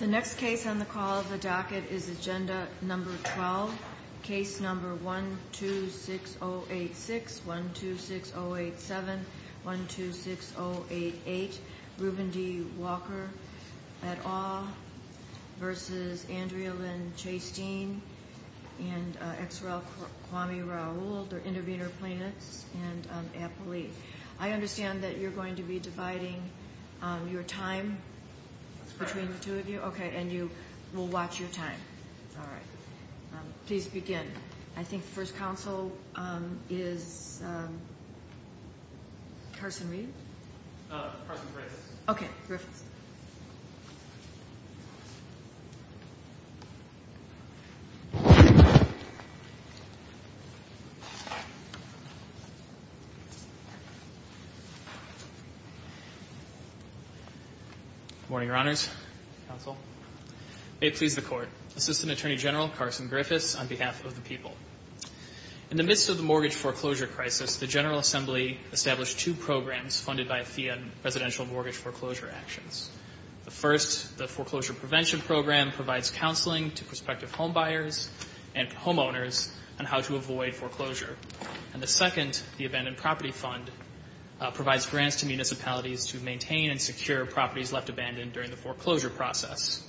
The next case on the call of the docket is agenda number 12, case number 126086, 126087, 126088, Ruben D. Walker, et al. versus Andrea Lynn Chasteen and Exerel Kwame Raul, they're intervener plaintiffs and an appellee. I understand that you're going to be dividing your time between the two of you? That's correct. Okay, and you will watch your time. All right. Please begin. I think the first counsel is Carson Reed? Carson Griffiths. Okay, Griffiths. Good morning, Your Honors. Counsel. May it please the Court. Assistant Attorney General Carson Griffiths on behalf of the people. In the midst of the mortgage foreclosure crisis, the General Assembly established two programs funded by a fee on residential mortgage foreclosure actions. The first, the Foreclosure Prevention Program, provides counseling to prospective homebuyers and homeowners on how to avoid foreclosure. And the second, the Abandoned Property Fund, provides grants to municipalities to maintain and secure properties left abandoned during the foreclosure process.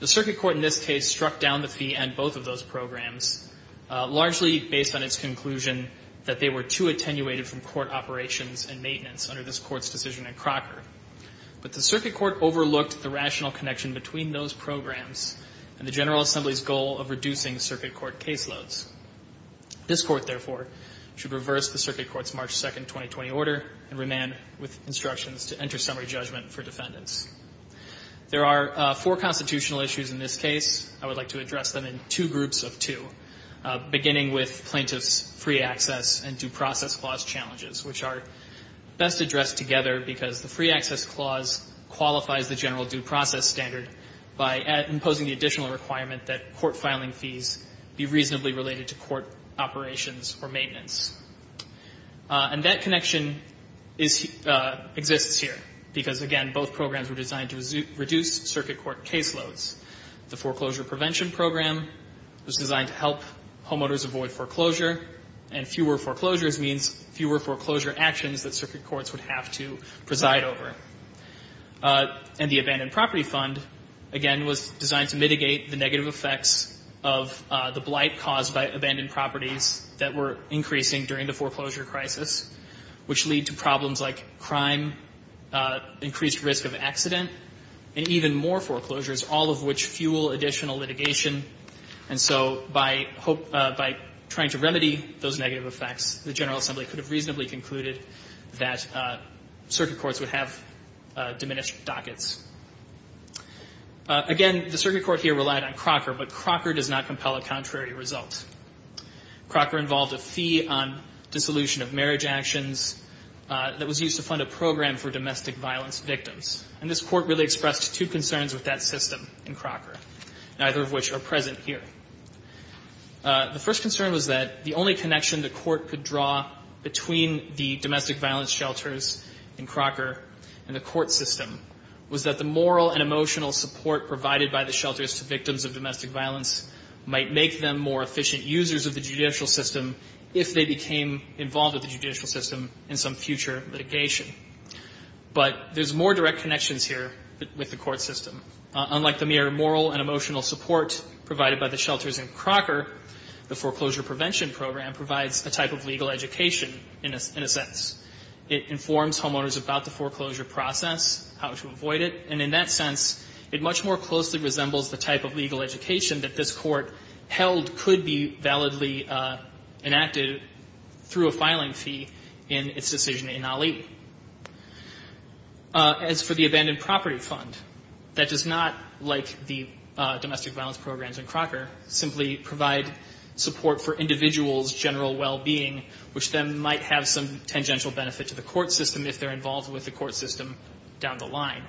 The circuit court in this case struck down the fee and both of those programs, largely based on its conclusion that they were too attenuated from court operations and maintenance under this Court's decision in Crocker. But the circuit court overlooked the rational connection between those programs and the General Assembly's goal of reducing circuit court caseloads. This Court, therefore, should reverse the circuit court's March 2, 2020, order and remain with instructions to enter summary judgment for defendants. There are four constitutional issues in this case. I would like to address them in two groups of two, beginning with plaintiffs' free access and due process clause challenges, which are best addressed together because the free access clause qualifies the general due process standard by imposing the additional requirement that court filing fees be reasonably related to court operations or maintenance. And that connection exists here because, again, both programs were designed to reduce circuit court caseloads. The foreclosure prevention program was designed to help homeowners avoid foreclosure and fewer foreclosures means fewer foreclosure actions that circuit courts would have to preside over. And the Abandoned Property Fund, again, was designed to mitigate the negative effects of the blight caused by abandoned properties that were increasing during the foreclosure crisis, which lead to problems like crime, increased risk of accident, and even more foreclosures, all of which fuel additional litigation. And so by trying to remedy those negative effects, the General Assembly could have reasonably concluded that circuit courts would have diminished dockets. Again, the circuit court here relied on Crocker, but Crocker does not compel a contrary result. Crocker involved a fee on dissolution of marriage actions that was used to fund a program for domestic violence victims. And this Court really expressed two concerns with that system in Crocker, neither of which are present here. The first concern was that the only connection the Court could draw between the domestic violence shelters in Crocker and the court system was that the moral and emotional support provided by the shelters to victims of domestic violence might make them more efficient users of the judicial system if they became involved with the judicial system in some future litigation. But there's more direct connections here with the court system. Unlike the mere moral and emotional support provided by the shelters in Crocker, the foreclosure prevention program provides a type of legal education, in a sense. It informs homeowners about the foreclosure process, how to avoid it, and in that sense, it much more closely resembles the type of legal education that this Court held could be validly enacted through a filing fee in its decision in Ali. As for the abandoned property fund, that does not, like the domestic violence programs in Crocker, simply provide support for individuals' general well-being, which then might have some tangential benefit to the court system if they're involved with the court system down the line.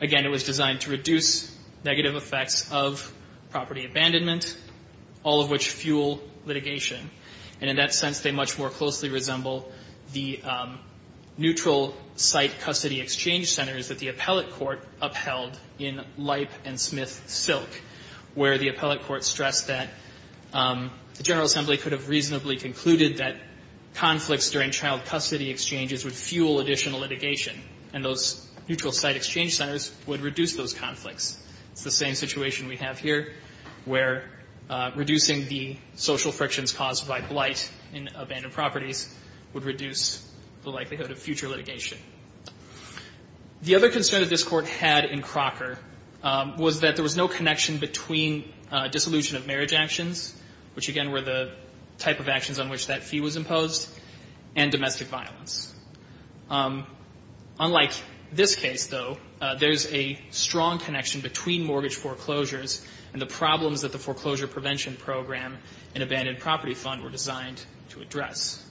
Again, it was designed to reduce negative effects of property abandonment, all of which fuel litigation. And in that sense, they much more closely resemble the neutral site custody exchange centers that the appellate court upheld in Leip and Smith Silk, where the appellate court stressed that the General Assembly could have reasonably concluded that conflicts during child custody exchanges would fuel additional litigation and those neutral site exchange centers would reduce those conflicts. It's the same situation we have here, where reducing the social frictions caused by blight in abandoned properties would reduce the likelihood of future litigation. The other concern that this Court had in Crocker was that there was no connection between dissolution of marriage actions, which, again, were the type of actions on which that fee was imposed, and domestic violence. Unlike this case, though, there's a strong connection between mortgage foreclosures and the problems that the foreclosure prevention program and abandoned property fund were designed to address.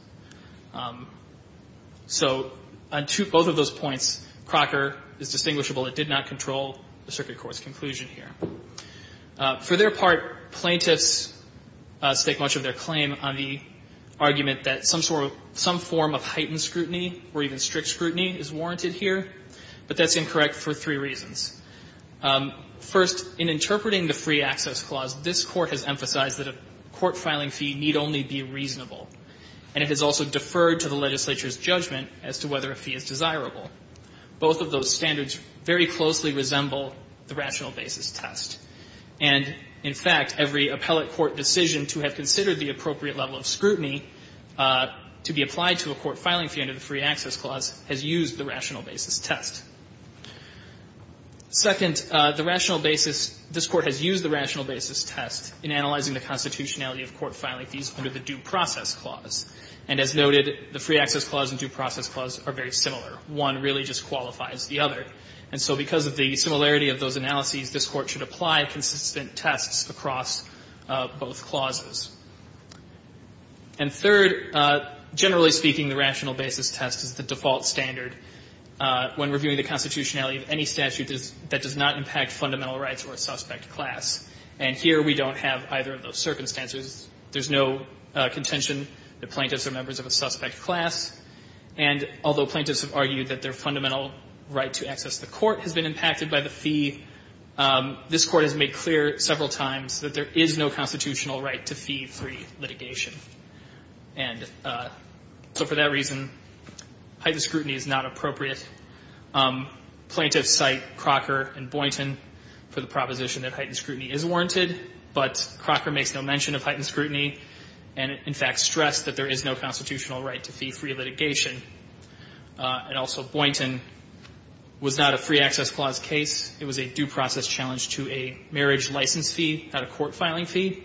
So on both of those points, Crocker is distinguishable. It did not control the circuit court's conclusion here. For their part, plaintiffs stake much of their claim on the argument that some sort of some form of heightened scrutiny or even strict scrutiny is warranted here, but that's incorrect for three reasons. First, in interpreting the Free Access Clause, this Court has emphasized that a court filing fee need only be reasonable, and it has also deferred to the legislature's judgment as to whether a fee is desirable. Both of those standards very closely resemble the rational basis test. And, in fact, every appellate court decision to have considered the appropriate level of scrutiny to be applied to a court filing fee under the Free Access Clause has used the rational basis test. Second, the rational basis, this Court has used the rational basis test in analyzing the constitutionality of court filing fees under the Due Process Clause. And as noted, the Free Access Clause and Due Process Clause are very similar. One really just qualifies the other. And so because of the similarity of those analyses, this Court should apply consistent tests across both clauses. And third, generally speaking, the rational basis test is the default standard when reviewing the constitutionality of any statute that does not impact fundamental rights or a suspect class. And here we don't have either of those circumstances. There's no contention that plaintiffs are members of a suspect class. And although plaintiffs have argued that their fundamental right to access the court has been impacted by the fee, this Court has made clear several times that there is no constitutional right to fee-free litigation. And so for that reason, heightened scrutiny is not appropriate. Plaintiffs cite Crocker and Boynton for the proposition that heightened scrutiny is warranted, but Crocker makes no mention of heightened scrutiny and, in fact, stressed that there is no constitutional right to fee-free litigation. And also Boynton was not a Free Access Clause case. It was a due process challenge to a marriage license fee, not a court filing fee.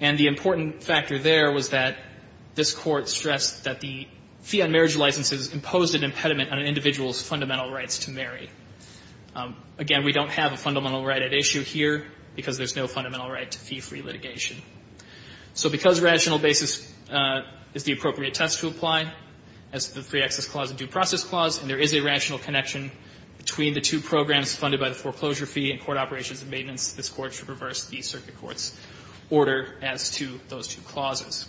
And the important factor there was that this Court stressed that the fee on marriage licenses imposed an impediment on an individual's fundamental rights to marry. Again, we don't have a fundamental right at issue here because there's no fundamental right to fee-free litigation. So because rational basis is the appropriate test to apply as to the Free Access Clause and Due Process Clause, and there is a rational connection between the two programs funded by the foreclosure fee and court operations and maintenance, this Court should reverse the circuit court's order as to those two clauses.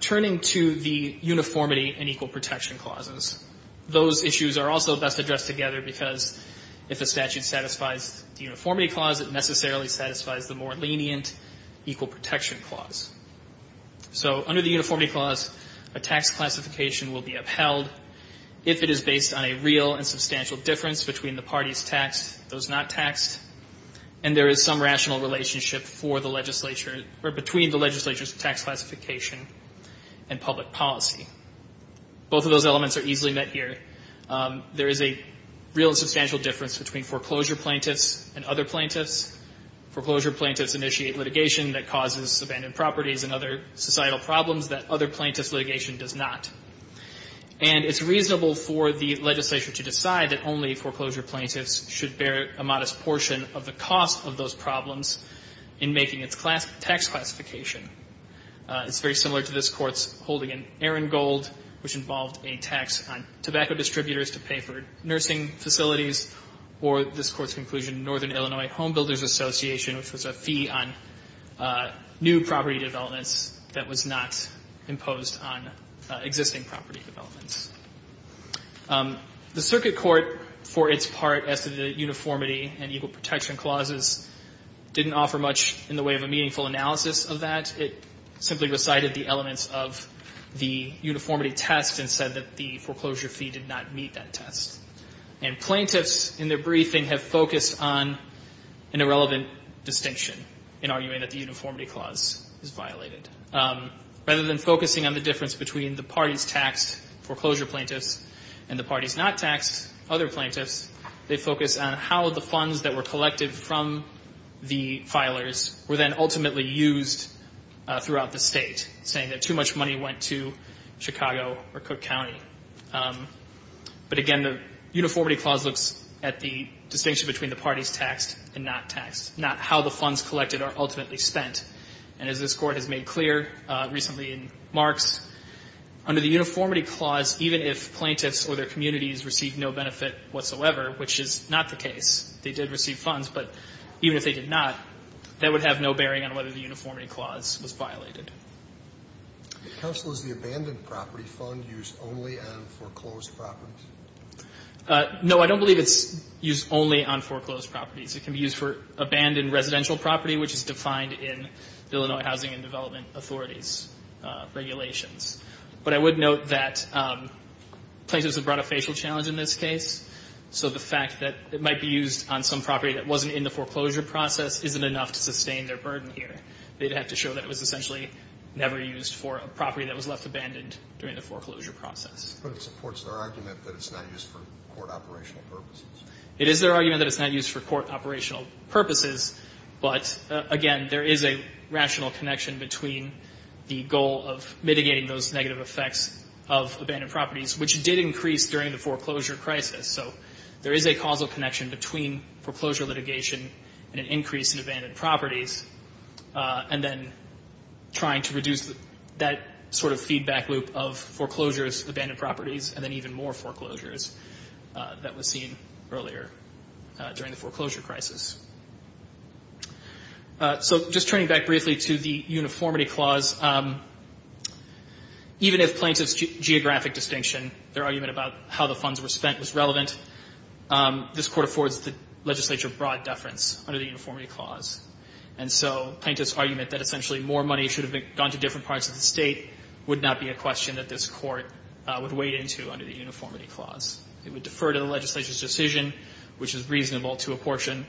Turning to the uniformity and equal protection clauses, those issues are also best addressed together because if a statute satisfies the uniformity clause, it necessarily satisfies the more lenient equal protection clause. So under the uniformity clause, a tax classification will be upheld if it is based on a real and substantial difference between the parties taxed, those not taxed, and there is some rational relationship for the legislature or between the legislature's tax classification and public policy. Both of those elements are easily met here. There is a real and substantial difference between foreclosure plaintiffs and other plaintiffs. Foreclosure plaintiffs initiate litigation that causes abandoned properties and other societal problems that other plaintiffs' litigation does not. And it's reasonable for the legislature to decide that only foreclosure plaintiffs should bear a modest portion of the cost of those problems in making its tax classification. It's very similar to this Court's holding in Arangold, which involved a tax on tobacco distributors to pay for nursing facilities, or this Court's conclusion in Northern Illinois Homebuilders Association, which was a fee on new property developments that was not imposed on existing property developments. The circuit court, for its part, as to the uniformity and equal protection clauses, didn't offer much in the way of a meaningful analysis of that. It simply recited the elements of the uniformity test and said that the foreclosure fee did not meet that test. And plaintiffs, in their briefing, have focused on an irrelevant distinction in arguing that the uniformity clause is violated. Rather than focusing on the difference between the parties taxed, foreclosure plaintiffs, and the parties not taxed, other plaintiffs, they focus on how the funds that were collected from the filers were then ultimately used throughout the State, saying that too much money went to Chicago or Cook County. But again, the uniformity clause looks at the distinction between the parties taxed and not taxed, not how the funds collected are ultimately spent. And as this Court has made clear recently in Marx, under the uniformity clause, even if plaintiffs or their communities received no benefit whatsoever, which is not the case, they did receive funds, but even if they did not, that would have no bearing on whether the uniformity clause was violated. The counsel is the abandoned property fund used only on foreclosed properties? No. I don't believe it's used only on foreclosed properties. It can be used for abandoned residential property, which is defined in Illinois Housing and Development Authority's regulations. But I would note that plaintiffs have brought a facial challenge in this case, so the fact that it might be used on some property that wasn't in the foreclosure process isn't enough to sustain their burden here. They'd have to show that it was essentially never used for a property that was left abandoned during the foreclosure process. But it supports their argument that it's not used for court operational purposes? It is their argument that it's not used for court operational purposes, but, again, there is a rational connection between the goal of mitigating those negative effects of abandoned properties, which did increase during the foreclosure crisis. So there is a causal connection between foreclosure litigation and an increase in abandoned properties, and then trying to reduce that sort of feedback loop of foreclosures, abandoned properties, and then even more foreclosures that was seen earlier during the foreclosure crisis. So just turning back briefly to the uniformity clause, even if plaintiffs' geographic distinction, their argument about how the funds were spent was relevant, this court affords the legislature broad deference under the uniformity clause. And so plaintiffs' argument that essentially more money should have gone to different parts of the State would not be a question that this court would wade into under the uniformity clause. It would defer to the legislature's decision, which is reasonable, to apportion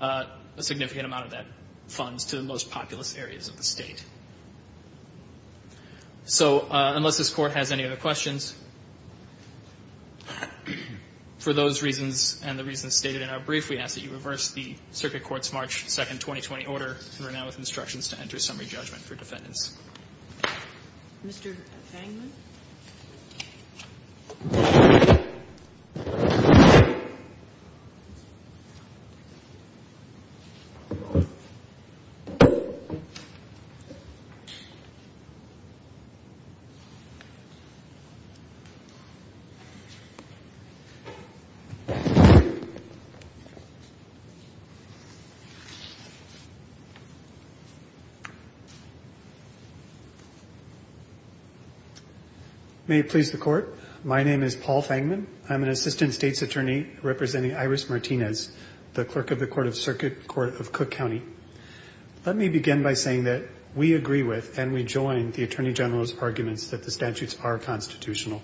a significant amount of that funds to the most populous areas of the State. So unless this Court has any other questions, for those reasons and the reasons stated in our brief, we ask that you reverse the Circuit Court's March 2, 2020, order and run it now with instructions to enter summary judgment for defendants. Mr. Fangman? May it please the Court. My name is Paul Fangman. I'm an Assistant State's Attorney representing Iris Martinez, the Clerk of the Court of Circuit Court of Cook County. Let me begin by saying that we agree with and we join the Attorney General's arguments that the statutes are constitutional.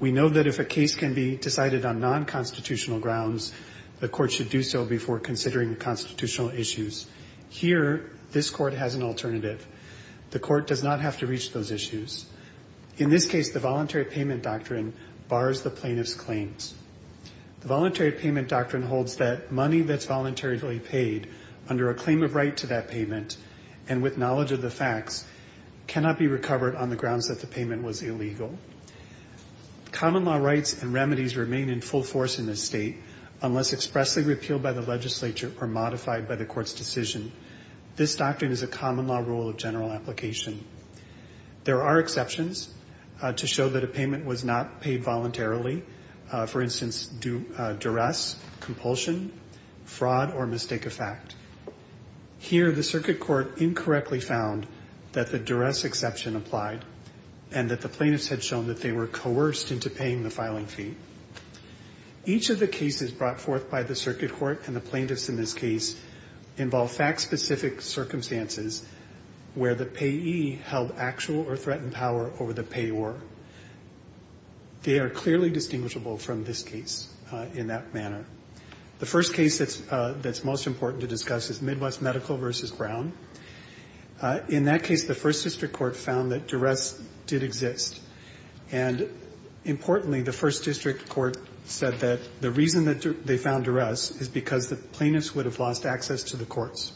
We know that if a case can be decided on non-constitutional grounds, the Court should do so before considering constitutional issues. Here, this Court has an alternative. The Court does not have to reach those issues. In this case, the Voluntary Payment Doctrine bars the plaintiff's claims. The Voluntary Payment Doctrine holds that money that's voluntarily paid under a claim of right to that payment and with knowledge of the facts cannot be recovered on the grounds that the payment was illegal. Common law rights and remedies remain in full force in this State unless expressly appealed by the legislature or modified by the Court's decision. This doctrine is a common law rule of general application. There are exceptions to show that a payment was not paid voluntarily. For instance, duress, compulsion, fraud, or mistake of fact. Here, the Circuit Court incorrectly found that the duress exception applied and that the plaintiffs had shown that they were coerced into paying the filing fee. Each of the cases brought forth by the Circuit Court and the plaintiffs in this case involve fact-specific circumstances where the payee held actual or threatened power over the payor. They are clearly distinguishable from this case in that manner. The first case that's most important to discuss is Midwest Medical v. Brown. In that case, the First District Court found that duress did exist. And importantly, the First District Court said that the reason that they found duress is because the plaintiffs would have lost access to the courts.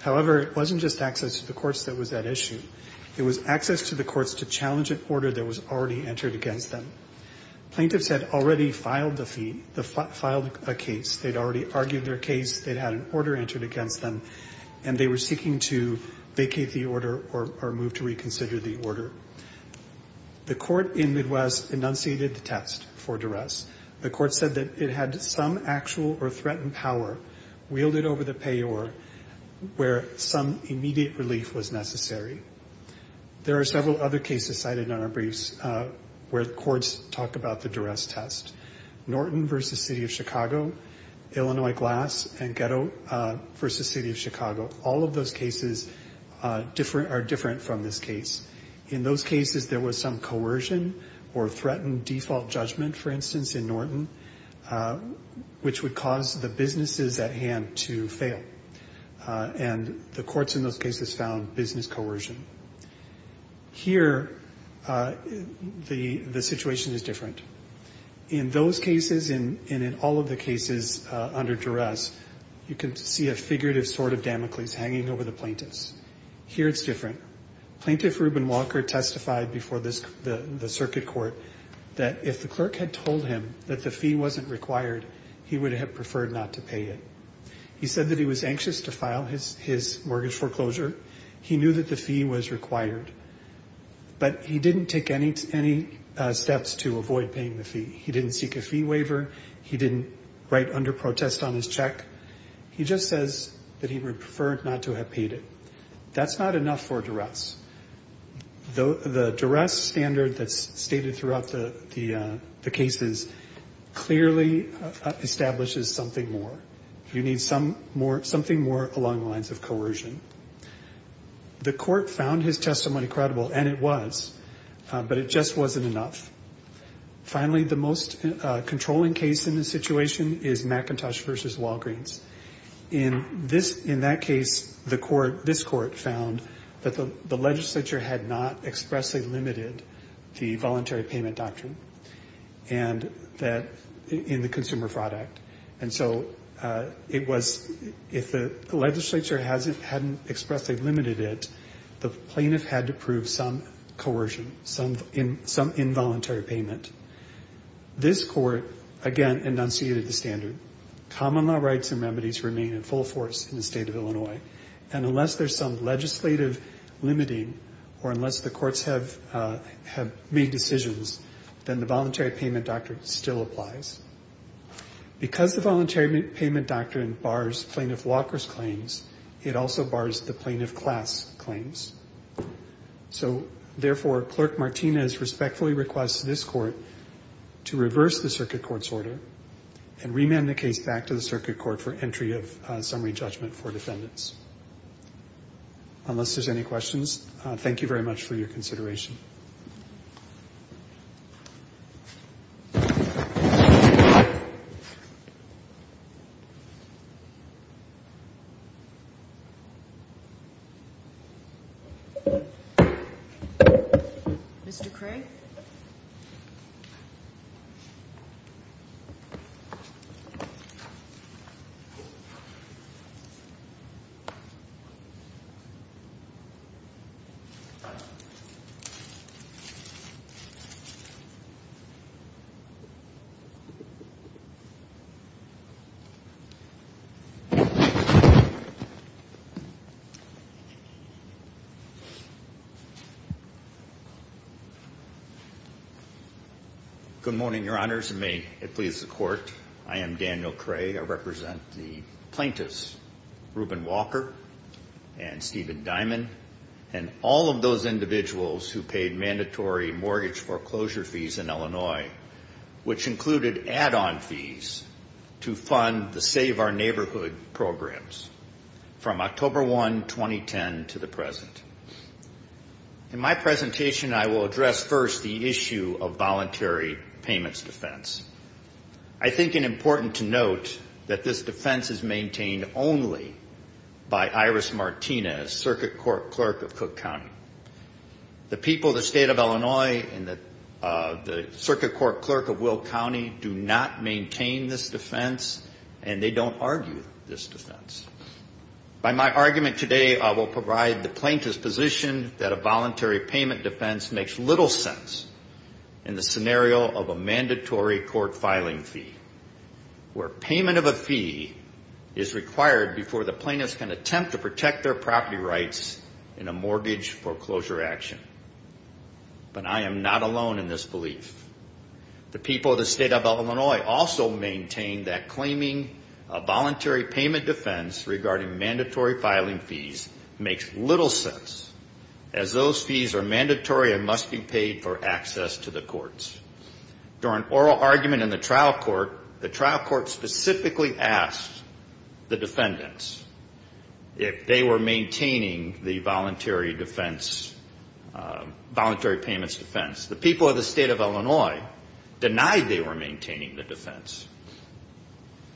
However, it wasn't just access to the courts that was at issue. It was access to the courts to challenge an order that was already entered against them. Plaintiffs had already filed a fee, filed a case. They'd already argued their case. They'd had an order entered against them, and they were seeking to vacate the order or move to reconsider the order. The court in Midwest enunciated the test for duress. The court said that it had some actual or threatened power wielded over the payor where some immediate relief was necessary. There are several other cases cited in our briefs where the courts talk about the duress test. Norton v. City of Chicago, Illinois Glass, and Ghetto v. City of Chicago. All of those cases are different from this case. In those cases, there was some coercion or threatened default judgment, for instance, in Norton, which would cause the businesses at hand to fail. And the courts in those cases found business coercion. Here, the situation is different. In those cases and in all of the cases under duress, you can see a figurative sword of Damocles hanging over the plaintiffs. Here it's different. Plaintiff Reuben Walker testified before the circuit court that if the clerk had told him that the fee wasn't required, he would have preferred not to pay it. He said that he was anxious to file his mortgage foreclosure. He knew that the fee was required. But he didn't take any steps to avoid paying the fee. He didn't seek a fee waiver. He didn't write under protest on his check. He just says that he would prefer not to have paid it. That's not enough for duress. The duress standard that's stated throughout the cases clearly establishes something more. You need something more along the lines of coercion. The court found his testimony credible, and it was, but it just wasn't enough. Finally, the most controlling case in this situation is McIntosh v. Walgreens. In that case, this court found that the legislature had not expressly limited the voluntary payment doctrine in the Consumer Fraud Act. And so if the legislature hadn't expressly limited it, the plaintiff had to prove some coercion, some involuntary payment. This court, again, enunciated the standard. Common law rights and remedies remain in full force in the state of Illinois. And unless there's some legislative limiting or unless the courts have made decisions, then the voluntary payment doctrine still applies. Because the voluntary payment doctrine bars plaintiff Walker's claims, it also bars the plaintiff Klass's claims. So, therefore, Clerk Martinez respectfully requests this court to reverse the circuit court's order and remand the case back to the circuit court for entry of summary judgment for defendants. Unless there's any questions, thank you very much for your consideration. Mr. Craig? Good morning, Your Honors. And may it please the Court, I am Daniel Craig. I represent the plaintiffs, Reuben Walker and Steven Dimond, and all of those individuals who paid mandatory mortgage foreclosure fees in Illinois, which included add-on fees to fund the Save Our Neighborhood programs from October 1, 2010 to the present. In my presentation, I will address first the issue of voluntary payments defense. I think it's important to note that this defense is maintained only by Iris Martinez, Circuit Court Clerk of Cook County. The people of the state of Illinois and the Circuit Court Clerk of Will By my argument today, I will provide the plaintiff's position that a voluntary payment defense makes little sense in the scenario of a mandatory court filing fee, where payment of a fee is required before the plaintiffs can attempt to protect their property rights in a mortgage foreclosure action. But I am not alone in this belief. The people of the state of Illinois also maintain that claiming a voluntary payment defense regarding mandatory filing fees makes little sense, as those fees are mandatory and must be paid for access to the courts. During oral argument in the trial court, the trial court specifically asked the defendants if they were maintaining the voluntary payments defense. The people of the state of Illinois denied they were maintaining the defense.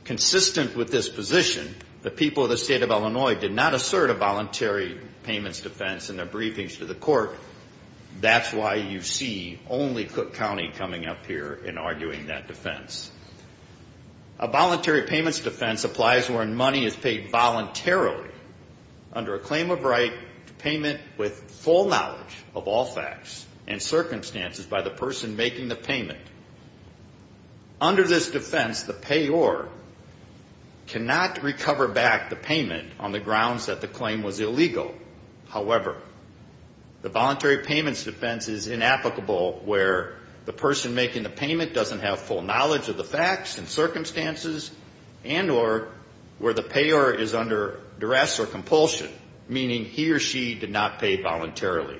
Consistent with this position, the people of the state of Illinois did not assert a voluntary payments defense in their briefings to the court. That's why you see only Cook County coming up here and arguing that defense. A voluntary payments defense applies when money is paid voluntarily under a claim of right to payment with full knowledge of all facts and circumstances by the person making the payment. Under this defense, the payor cannot recover back the payment on the grounds that the claim was illegal. However, the voluntary payments defense is inapplicable where the person making the payment doesn't have full knowledge of the facts and circumstances and or where the payor is under duress or compulsion, meaning he or she did not pay voluntarily.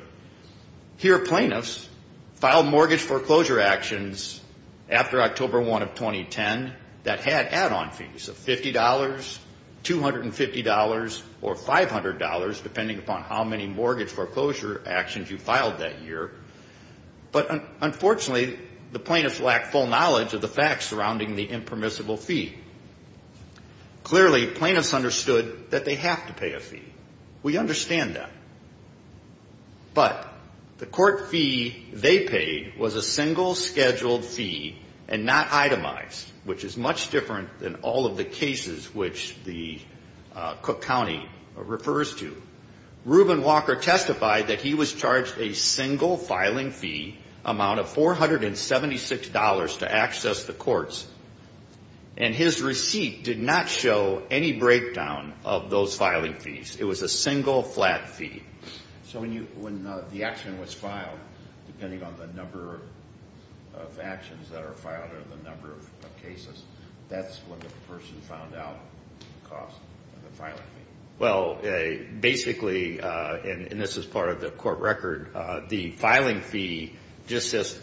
Here, plaintiffs filed mortgage foreclosure actions after October 1 of 2010 that had add-on fees of $50, $250, or $500, depending upon how many mortgage foreclosure actions you filed that year. But unfortunately, the plaintiffs lacked full knowledge of the facts surrounding the impermissible fee. Clearly, plaintiffs understood that they have to pay a fee. We understand that. But the court fee they paid was a single scheduled fee and not itemized, which is much different than all of the cases which the Cook County refers to. Reuben Walker testified that he was charged a single filing fee amount of $476 to $50, and his receipt did not show any breakdown of those filing fees. It was a single flat fee. So when the action was filed, depending on the number of actions that are filed or the number of cases, that's when the person found out the cost of the filing fee? Well, basically, and this is part of the court record, the filing fee just says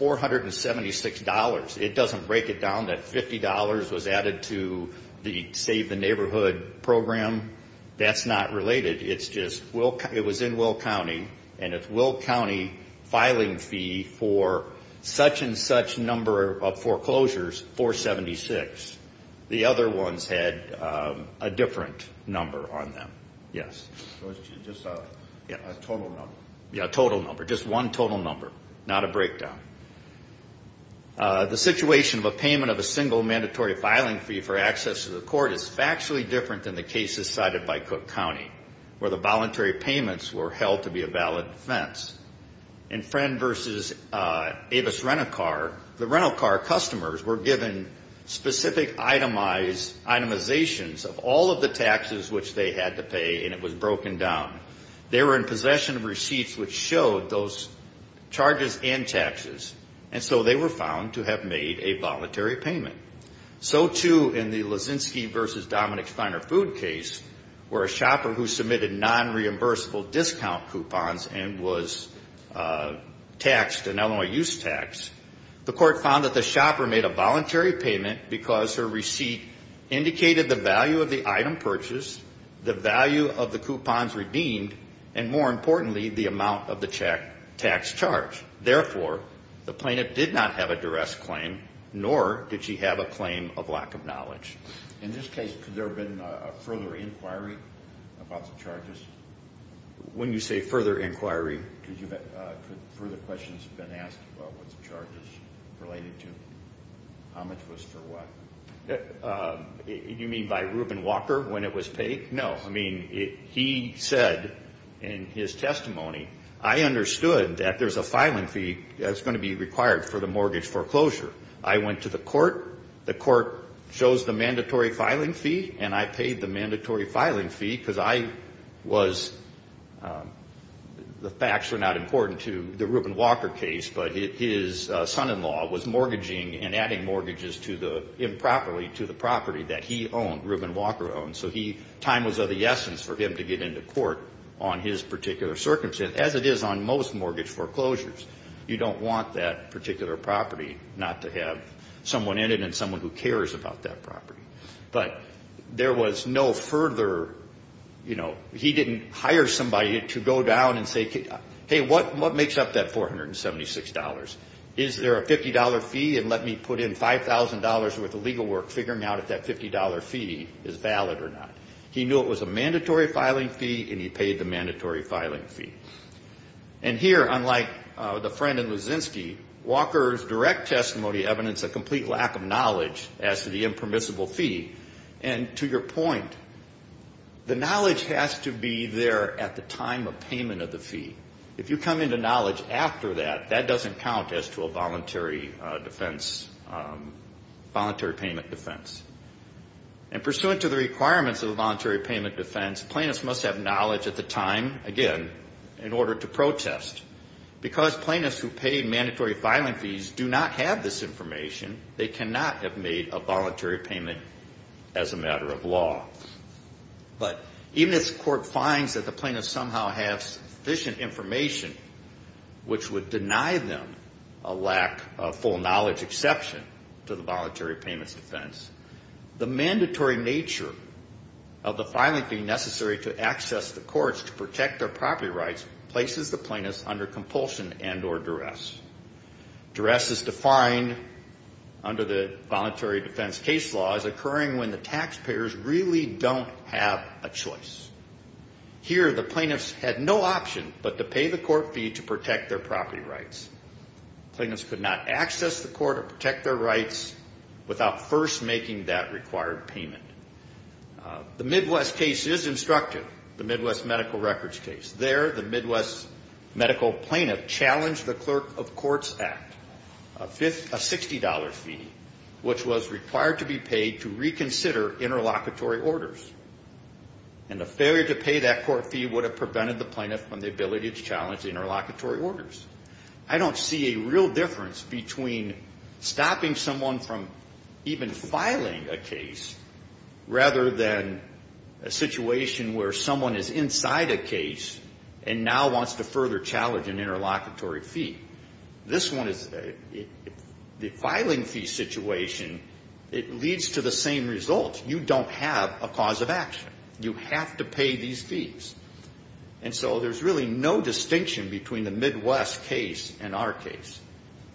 $476. It doesn't break it down that $50 was added to the Save the Neighborhood program. That's not related. It was in Will County, and it's Will County filing fee for such and such number of foreclosures, $476. The other ones had a different number on them. Yes. Just one total number, not a breakdown. The situation of a payment of a single mandatory filing fee for access to the court is factually different than the cases cited by Cook County where the voluntary payments were held to be a valid defense. In Friend v. Avis Rent-A-Car, the rental car customers were given specific itemizations of all of the taxes which they had to pay, and it was broken down. They were in possession of receipts which showed those charges and taxes, and so they were found to have made a voluntary payment. So, too, in the Leszczynski v. Dominick's Finer Food case, where a shopper who submitted nonreimbursable discount coupons and was taxed an Illinois use tax, the court found that the shopper made a voluntary payment because her receipt indicated the value of the item purchased, the value of the coupons redeemed, and, more importantly, the amount of the tax charge. Therefore, the plaintiff did not have a duress claim, nor did she have a claim of lack of duress. You mean by Reuben Walker when it was paid? No. I mean, he said in his testimony, I understood that there's a filing fee that's going to be required for the mortgage foreclosure. I went to the court. The court chose the mandatory filing fee, and I paid the mandatory filing fee because I was, the facts were not important to the Reuben Walker case, but his son-in-law was mortgaging and adding mortgages improperly to the property that he owned, Reuben Walker owned. So time was of the essence for him to get into court on his particular circumstance, as it is on most mortgage foreclosures. You don't want that particular property not to have someone in it and someone who didn't hire somebody to go down and say, hey, what makes up that $476? Is there a $50 fee? And let me put in $5,000 worth of legal work figuring out if that $50 fee is valid or not. He knew it was a mandatory filing fee, and he paid the mandatory filing fee. And here, unlike the friend in Lusinski, Walker's direct testimony evidenced a complete lack of knowledge as to the fee. The knowledge has to be there at the time of payment of the fee. If you come into knowledge after that, that doesn't count as to a voluntary defense, voluntary payment defense. And pursuant to the requirements of the voluntary payment defense, plaintiffs must have knowledge at the time, again, in order to protest. Because plaintiffs who pay mandatory filing fees do not have this information, they cannot have made a voluntary payment as a matter of law. But even if the court finds that the plaintiffs somehow have sufficient information, which would deny them a lack of full knowledge exception to the voluntary payments defense, the mandatory nature of the filing fee necessary to access the courts to protect their property rights places the plaintiffs under compulsion and or duress. Duress is defined under the voluntary defense case law as occurring when the taxpayers really do not have the choice. Here, the plaintiffs had no option but to pay the court fee to protect their property rights. Plaintiffs could not access the court or protect their rights without first making that required payment. The Midwest case is instructive, the Midwest medical records case. There, the Midwest medical plaintiff challenged the Clerk of Courts Act, a $60 fee, which was required to be paid to reconsider interlocutory orders. And a failure to pay that court fee would have prevented the plaintiff from the ability to challenge interlocutory orders. I don't see a real difference between stopping someone from even filing a case, rather than a situation where someone is inside a case and now wants to further challenge an interlocutory fee. This one is, the filing fee situation, it leads to the same result. You don't have a cause of action. You have to pay these fees. And so there's really no distinction between the Midwest case and our case.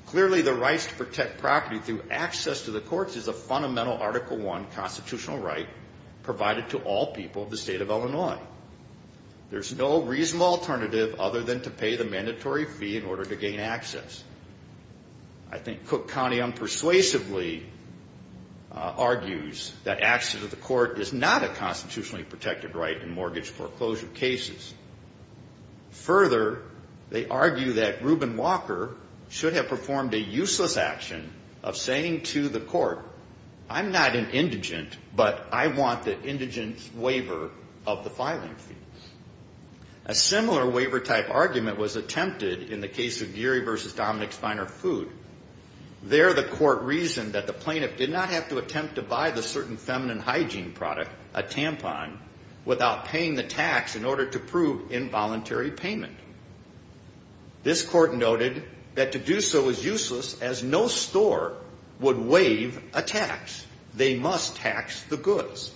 Clearly, the rights to protect property through access to the courts is a fundamental Article 1 constitutional right provided to all people of the state of Illinois. There's no reasonable alternative other than to pay the mandatory fee in order to gain access. I think Cook County unpersuasively argued that the Midwest case is a constitutional right. They argue that access to the court is not a constitutionally protected right in mortgage foreclosure cases. Further, they argue that Reuben Walker should have performed a useless action of saying to the court, I'm not an indigent, but I want the indigent's waiver of the filing fee. A similar waiver-type argument was attempted in the case of Geary v. Dominick in which the plaintiff did not have to attempt to buy the certain feminine hygiene product, a tampon, without paying the tax in order to prove involuntary payment. This court noted that to do so was useless as no store would waive a tax. They must tax the goods.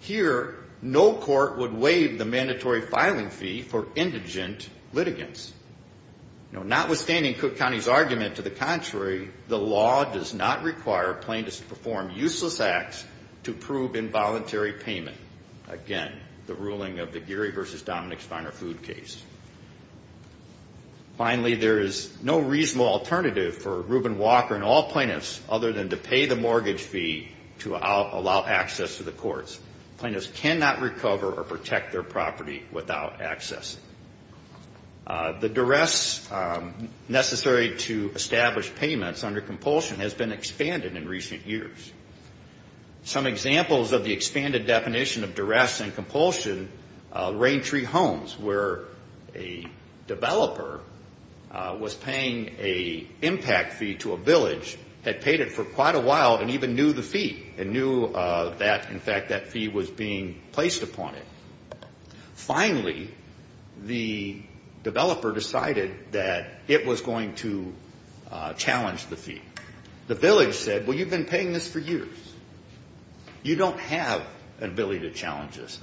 Here, no court would waive the mandatory filing fee for indigent litigants. Notwithstanding Cook County's position on the matter, the court's argument to the contrary, the law does not require plaintiffs to perform useless acts to prove involuntary payment. Again, the ruling of the Geary v. Dominick's finer food case. Finally, there is no reasonable alternative for Reuben Walker and all plaintiffs other than to pay the mortgage fee to allow access to the courts. Plaintiffs cannot recover or protect their property without access. The duress necessary to establish payments under compulsion has been expanded in recent years. Some examples of the expanded definition of duress and compulsion, rain tree homes where a developer was paying a impact fee to a village, had paid it for quite a while and even knew the fee and knew that, in fact, that fee was being placed upon it. Finally, the developer decided that it was going to be necessary to challenge the fee. The village said, well, you've been paying this for years. You don't have an ability to challenge this.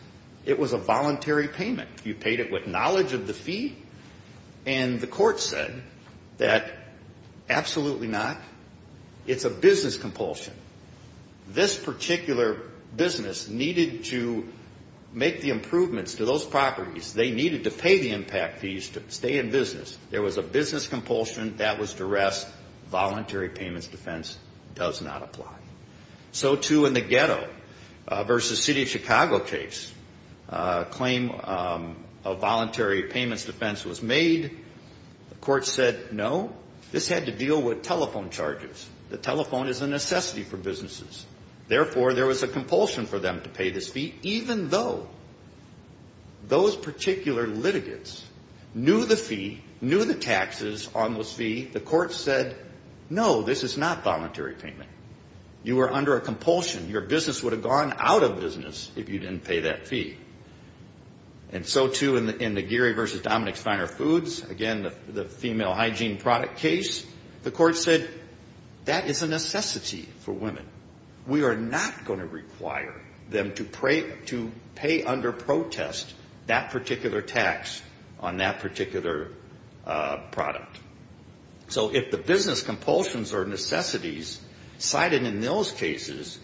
It was a voluntary payment. You paid it with knowledge of the fee. And the court said that absolutely not. It's a business compulsion. This particular business needed to make the improvements to those properties. They needed to pay the impact fees to stay in business. There was a business compulsion. That was duress. Voluntary payments defense does not apply. So, too, in the ghetto versus city of Chicago case, a claim of voluntary payments defense was made. The court said no. This had to deal with telephone charges. The telephone is a necessity for businesses. Therefore, there was a compulsion for business to pay voluntary payments. So, too, in the Gary versus Dominic's Finer Foods, again, the female hygiene product case, the court said that is a necessity for women. We are not going to require them to pay under protest that particular tax. We are going to require them to pay under protest on that particular product. So, if the business compulsions or necessities cited in those cases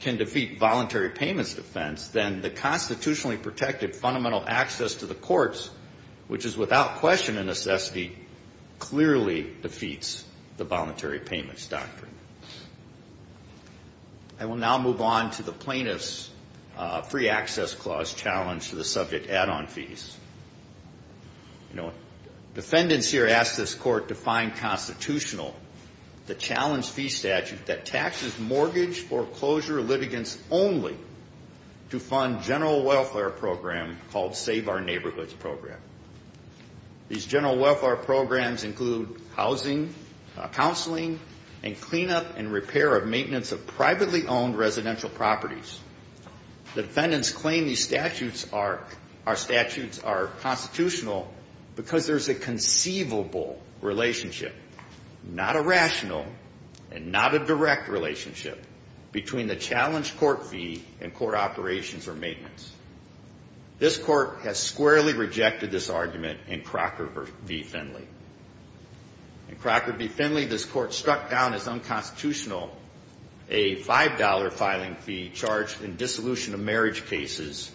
can defeat voluntary payments defense, then the constitutionally protected fundamental access to the courts, which is without question a necessity, clearly defeats the voluntary payments doctrine. I will now move on to the plaintiff's free access clause challenge to the subject add-on fees. The plaintiff's free access clause challenge. You know, defendants here asked this court to find constitutional the challenge fee statute that taxes mortgage foreclosure litigants only to fund general welfare program called Save Our Neighborhoods program. These general welfare programs include housing, counseling, and cleanup and repair of maintenance of privately owned residential properties. The defendants claim these statutes are constitutional because there's a conceivable relationship, not a rational and not a direct relationship, between the challenge court fee and court operations or maintenance. This court has squarely rejected this argument in Crocker v. Finley. In Crocker v. Finley, this court struck down as unconstitutional a $5 filing fee charged in dissolution of marriage cases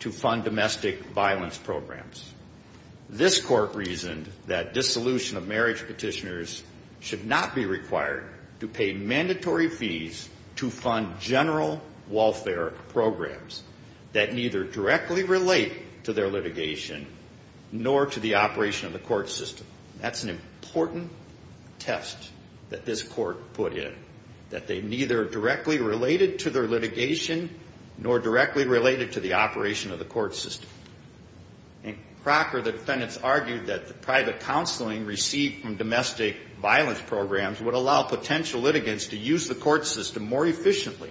to fund domestic violence programs. This court reasoned that dissolution of marriage petitioners should not be required to pay mandatory fees to fund general welfare programs that neither directly relate to their litigation nor to the operation of the court system. That's an important test that this court put in, that they neither directly related to their litigation nor directly related to the operation of the court system. In Crocker, the defendants argued that the private counseling received from domestic violence programs would allow potential litigants to use the court system more efficiently,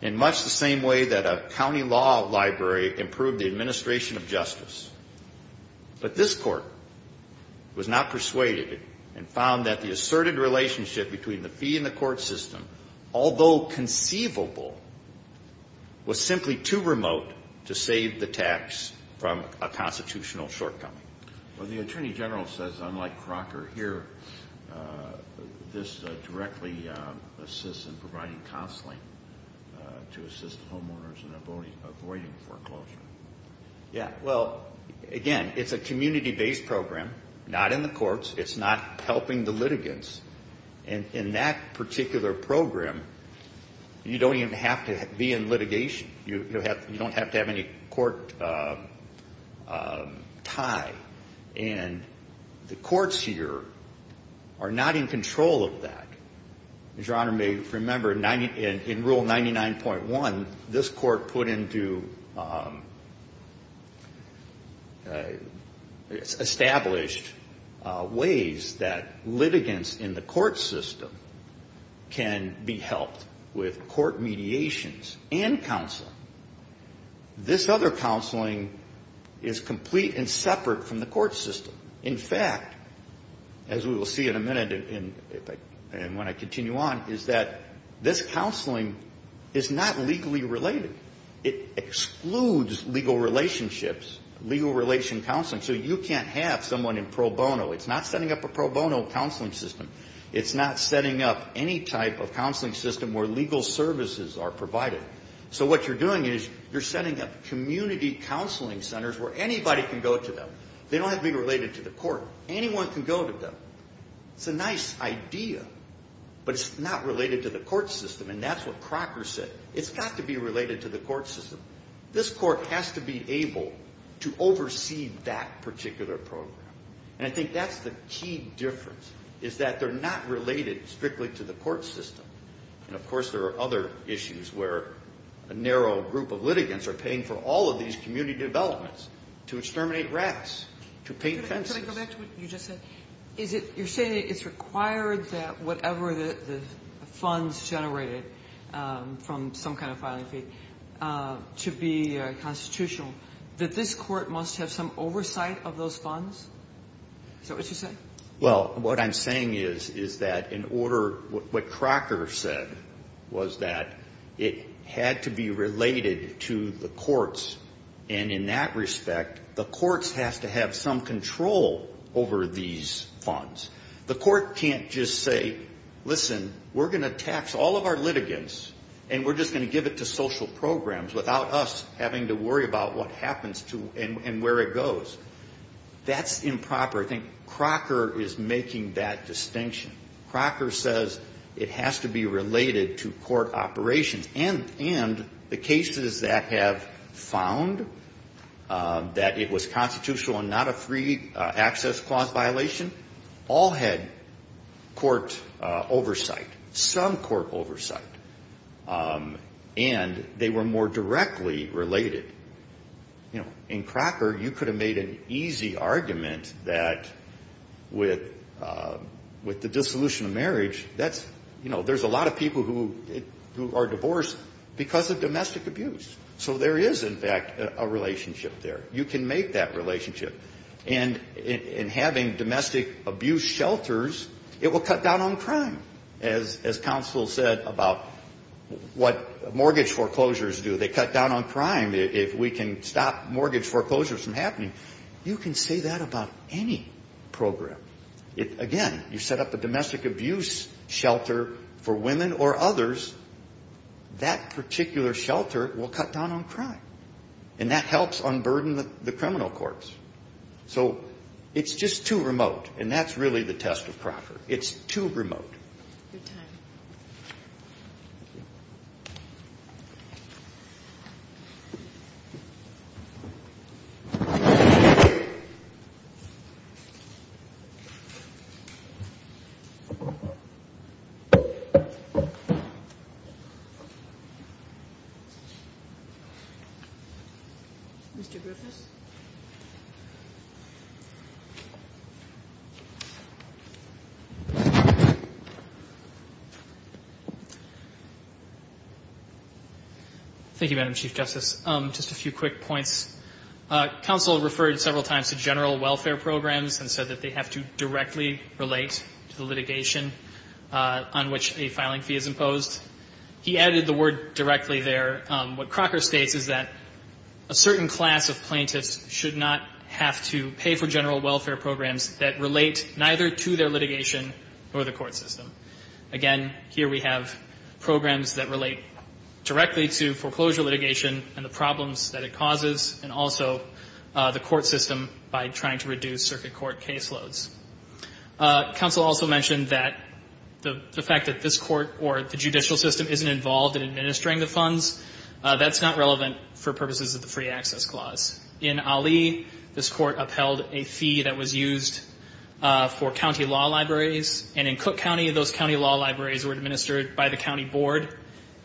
in much the same way that a county law library improved the administration of justice. But this court was not persuaded and found that the asserted relationship between the fee and the court system was not a rational and not a reasonable one. Although conceivable, it was simply too remote to save the tax from a constitutional shortcoming. Well, the Attorney General says, unlike Crocker here, this directly assists in providing counseling to assist homeowners in avoiding foreclosure. Yeah. Well, again, it's a community-based program, not in the courts. It's not helping the litigants. And in that particular program, you don't even have to be in litigation. You don't have to have any court tie. And the courts here are not in control of that. As Your Honor may remember, in Rule 99.1, this court put into established ways that litigants in the court system can be helped with court mediations and counseling. This other counseling is complete and separate from the court system. In fact, as we will see in a minute, and when I continue on, is that this counseling is not legally related. It excludes legal relationships, legal relation counseling. So you can't have someone in pro bono. It's not setting up a pro bono counseling system. It's not setting up any type of counseling system where legal services are provided. So what you're doing is you're setting up community counseling centers where anybody can go to them. They don't have to be related to the court. Anyone can go to them. It's a nice idea, but it's not related to the court system. And that's what Crocker said. It's got to be related to the court system. This court has to be able to oversee that particular program. And I think that's the key difference, is that they're not related strictly to the court system. And, of course, there are other issues where a narrow group of litigants are paying for all of these community developments to exterminate rats, to paint fences. Sotomayor Can I go back to what you just said? You're saying it's required that whatever the funds generated from some kind of filing fee to be constitutional, that this court must have some oversight of those funds? Is that what you're saying? Well, what I'm saying is that in order, what Crocker said was that it had to be related to the courts. And in that respect, the courts have to have some control over these funds. The court can't just say, listen, we're going to tax all of our litigants and we're just going to give it to social programs without us having to worry about what happens and where it goes. That's improper. I think Crocker is making that distinction. Crocker says it has to be related to court operations. And the cases that have found that it was constitutional and not a free access clause violation, all had court oversight, some court oversight. And they were more directly related. In Crocker, you could have made an easy argument that with the dissolution of marriage, there's a lot of people who are divorced because of domestic abuse. So there is, in fact, a relationship there. You can make that relationship. And in having domestic abuse shelters, it will cut down on crime. As counsel said about what mortgage foreclosures do, they cut down on crime. And if we can stop mortgage foreclosures from happening, you can say that about any program. Again, you set up a domestic abuse shelter for women or others, that particular shelter will cut down on crime. And that helps unburden the criminal courts. So it's just too remote. And that's really the test of Crocker. It's too remote. Thank you. Mr. Griffiths. Thank you, Madam Chief Justice. Just a few quick points. Counsel referred several times to general welfare programs and said that they have to directly relate to the litigation on which a filing fee is imposed. He added the word directly there. What Crocker states is that a certain class of plaintiffs should not have to pay for general welfare programs that relate neither to their litigation or the court system. Again, here we have programs that relate directly to foreclosure litigation and the problems that it causes and also the court system by trying to reduce circuit court caseloads. Counsel also mentioned that the fact that this court or the judicial system isn't involved in administering the funds, that's not relevant for purposes of the Free Access Clause. In Ali, this court upheld a fee that was used for county law libraries, and in Cook County, those county law libraries were administered by the county board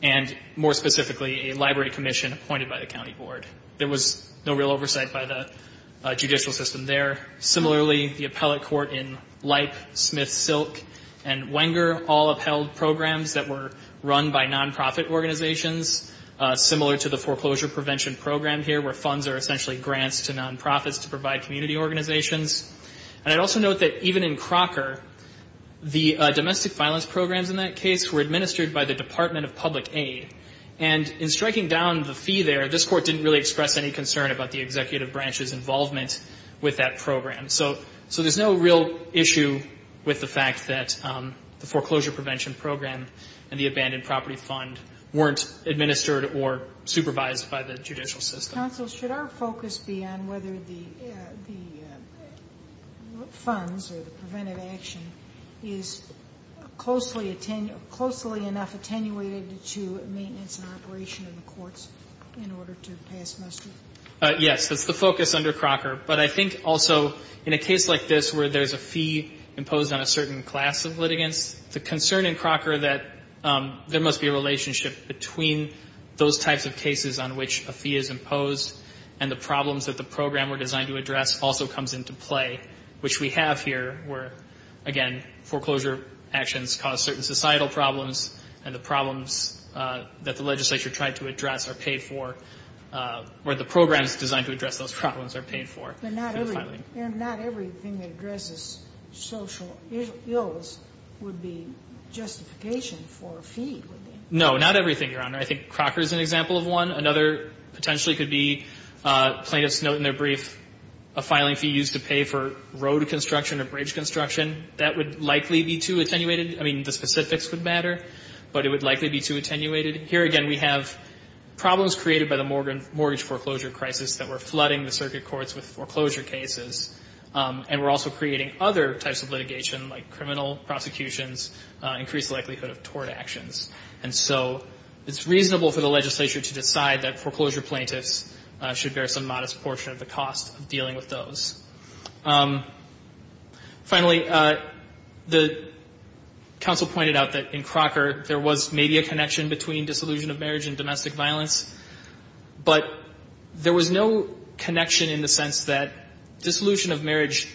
and, more specifically, a library commission appointed by the county board. There was no real oversight by the judicial system there. Similarly, the appellate court in Leip, Smith, Silk, and Wenger all upheld programs that were run by nonprofit organizations, similar to the foreclosure prevention program here, where funds are essentially grants to nonprofits to provide community organizations. And I'd also note that even in Crocker, the domestic violence programs in that case were administered by the Department of Public Aid. And in striking down the fee there, this court didn't really express any concern about the executive branch's involvement with that program. So there's no real issue with the fact that the foreclosure prevention program and the abandoned property fund weren't administered or supervised by the judicial system. Sotomayor, should our focus be on whether the funds or the preventive action is closely enough attenuated to maintenance and operation of the courts in order to pass muster? Yes, that's the focus under Crocker. But I think also in a case like this where there's a fee imposed on a certain class of litigants, the concern in Crocker that there must be a relationship between those types of cases on which a fee is imposed and the problems that the program were designed to address also comes into play, which we have here where, again, foreclosure actions cause certain societal problems, and the problems that the legislature tried to address are paid for, or the programs designed to address those problems are paid for. But not everything that addresses social ills would be justification for a fee, would they? No, not everything, Your Honor. I think Crocker is an example of one. Another potentially could be plaintiffs note in their brief a filing fee used to pay for road construction or bridge construction. That would likely be too attenuated. I mean, the specifics would matter, but it would likely be too attenuated. Here, again, we have problems created by the mortgage foreclosure crisis that were flooding the circuit courts with foreclosure cases, and were also creating other types of litigation like criminal prosecutions, increased likelihood of tort actions. And so it's reasonable for the legislature to decide that foreclosure plaintiffs should bear some modest portion of the cost of dealing with those. Finally, the counsel pointed out that in Crocker there was maybe a connection between dissolution of marriage and domestic violence, but there was no connection in the sense that dissolution of marriage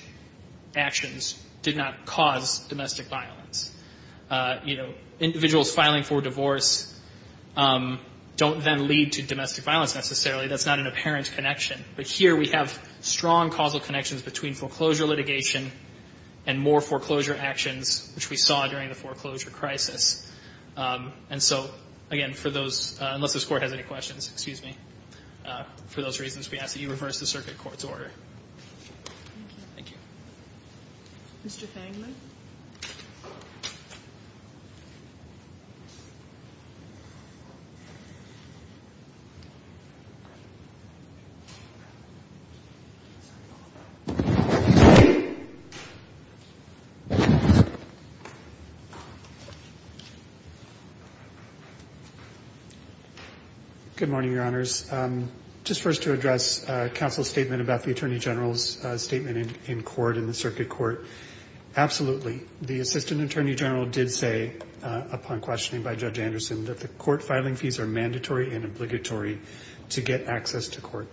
actions did not cause domestic violence. Individuals filing for divorce don't then lead to domestic violence necessarily. That's not an apparent connection. But here we have strong causal connections between foreclosure litigation and more foreclosure actions, which we saw during the foreclosure crisis. And so, again, for those, unless this Court has any questions, excuse me, for those reasons, we ask that you reverse the circuit court's order. Thank you. Mr. Fangman? Good morning, Your Honors. Just first to address counsel's statement about the Attorney General's statement in court, in the circuit court. Absolutely, the Assistant Attorney General did say, upon questioning by Judge Anderson, that the court filing fees are mandatory and obligatory to get access to court.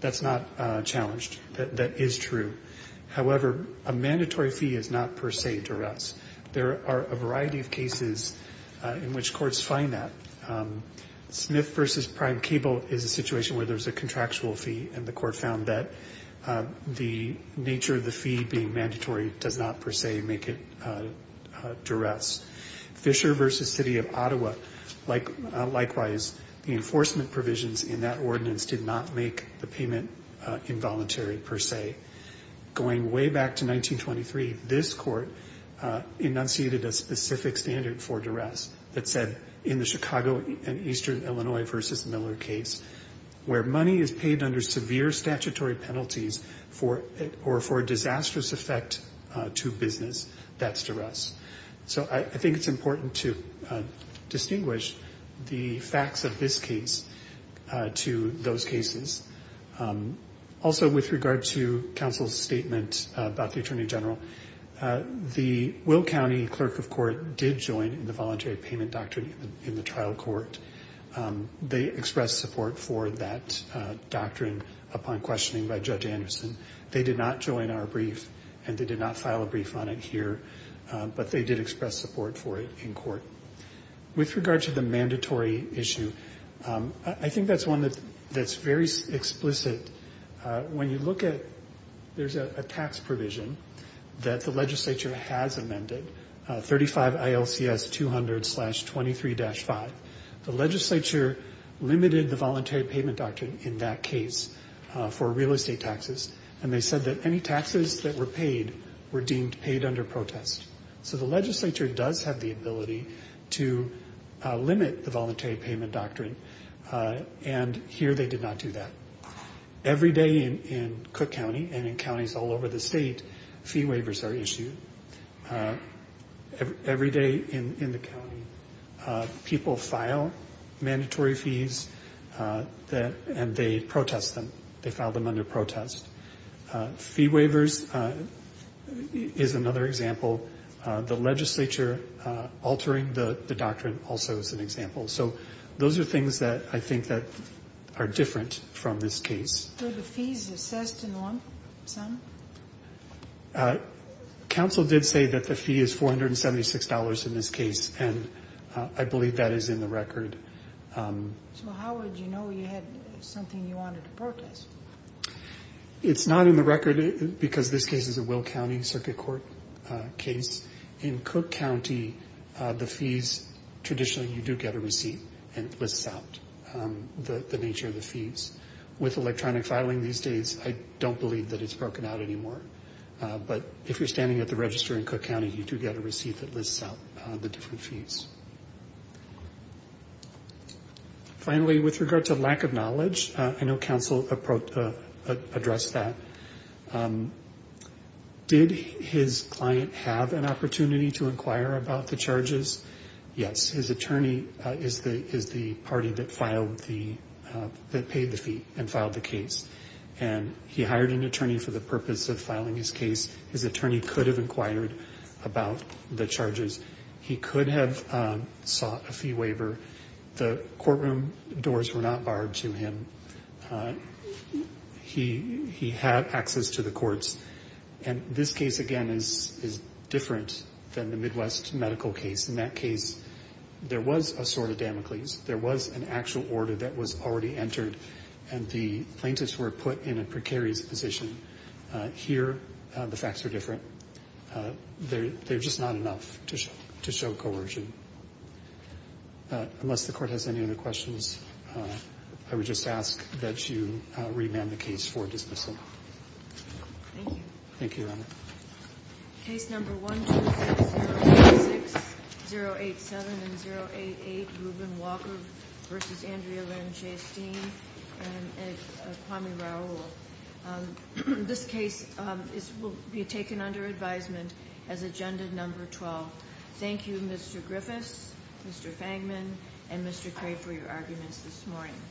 That's not challenged. That is true. However, a mandatory fee is not per se duress. There are a variety of cases in which courts find that. Smith v. Prime Cable is a situation where there's a contractual fee, and the court found that the nature of the fee being mandatory does not per se make it duress. Fisher v. City of Ottawa, likewise, the enforcement provisions in that ordinance did not make the payment involuntary per se. Going way back to 1923, this court enunciated a specific standard for duress that said, in the Chicago and Eastern Illinois v. Miller case, where money is paid under severe statutory penalties for a disastrous effect to business, that's duress. So I think it's important to distinguish the facts of this case to those cases. Also, with regard to counsel's statement about the Attorney General, the Will County Clerk of Court did join in the voluntary payment doctrine in the trial court. They expressed support for that doctrine upon questioning by Judge Anderson. They did not join our brief, and they did not file a brief on it here, but they did express support for it in court. With regard to the mandatory issue, I think that's one that's very explicit. When you look at, there's a tax provision that the legislature has amended, 35 ILCS 200-23-5. The legislature limited the voluntary payment doctrine in that case for real estate taxes, and they said that any taxes that were paid were deemed paid under protest. So the legislature does have the ability to limit the voluntary payment doctrine, and here they did not do that. Every day in Cook County and in counties all over the state, fee waivers are issued. Every day in the county, people file mandatory fees, and they protest them. They file them under protest. Fee waivers is another example. The legislature altering the doctrine also is an example. So those are things that I think that are different from this case. Were the fees assessed in the lump sum? Counsel did say that the fee is $476 in this case, and I believe that is in the record. So how would you know you had something you wanted to protest? It's not in the record, because this case is a Will County Circuit Court case. In Cook County, the fees, traditionally you do get a receipt, and it lists out the nature of the fees. With electronic filing these days, I don't believe that it's broken out anymore. But if you're standing at the register in Cook County, you do get a receipt that lists out the different fees. Finally, with regard to lack of knowledge, I know counsel addressed that. Did his client have an opportunity to inquire about the charges? Yes, his attorney is the party that paid the fee and filed the case. And he hired an attorney for the purpose of filing his case. He could have sought a fee waiver. The courtroom doors were not barred to him. He had access to the courts. And this case, again, is different than the Midwest medical case. In that case, there was a sort of Damocles. There was an actual order that was already entered, and the plaintiffs were put in a precarious position. Here, the facts are different. They're just not enough to show coercion. Unless the Court has any other questions, I would just ask that you remand the case for dismissal. Thank you. Thank you, Your Honor. Case number 12606, 087, and 088, Ruben Walker v. Andrea Van Chasteen and Kwame Raul. This case will be taken under advisement as agenda number 12. Thank you, Mr. Griffiths, Mr. Fangman, and Mr. Cray for your arguments this morning.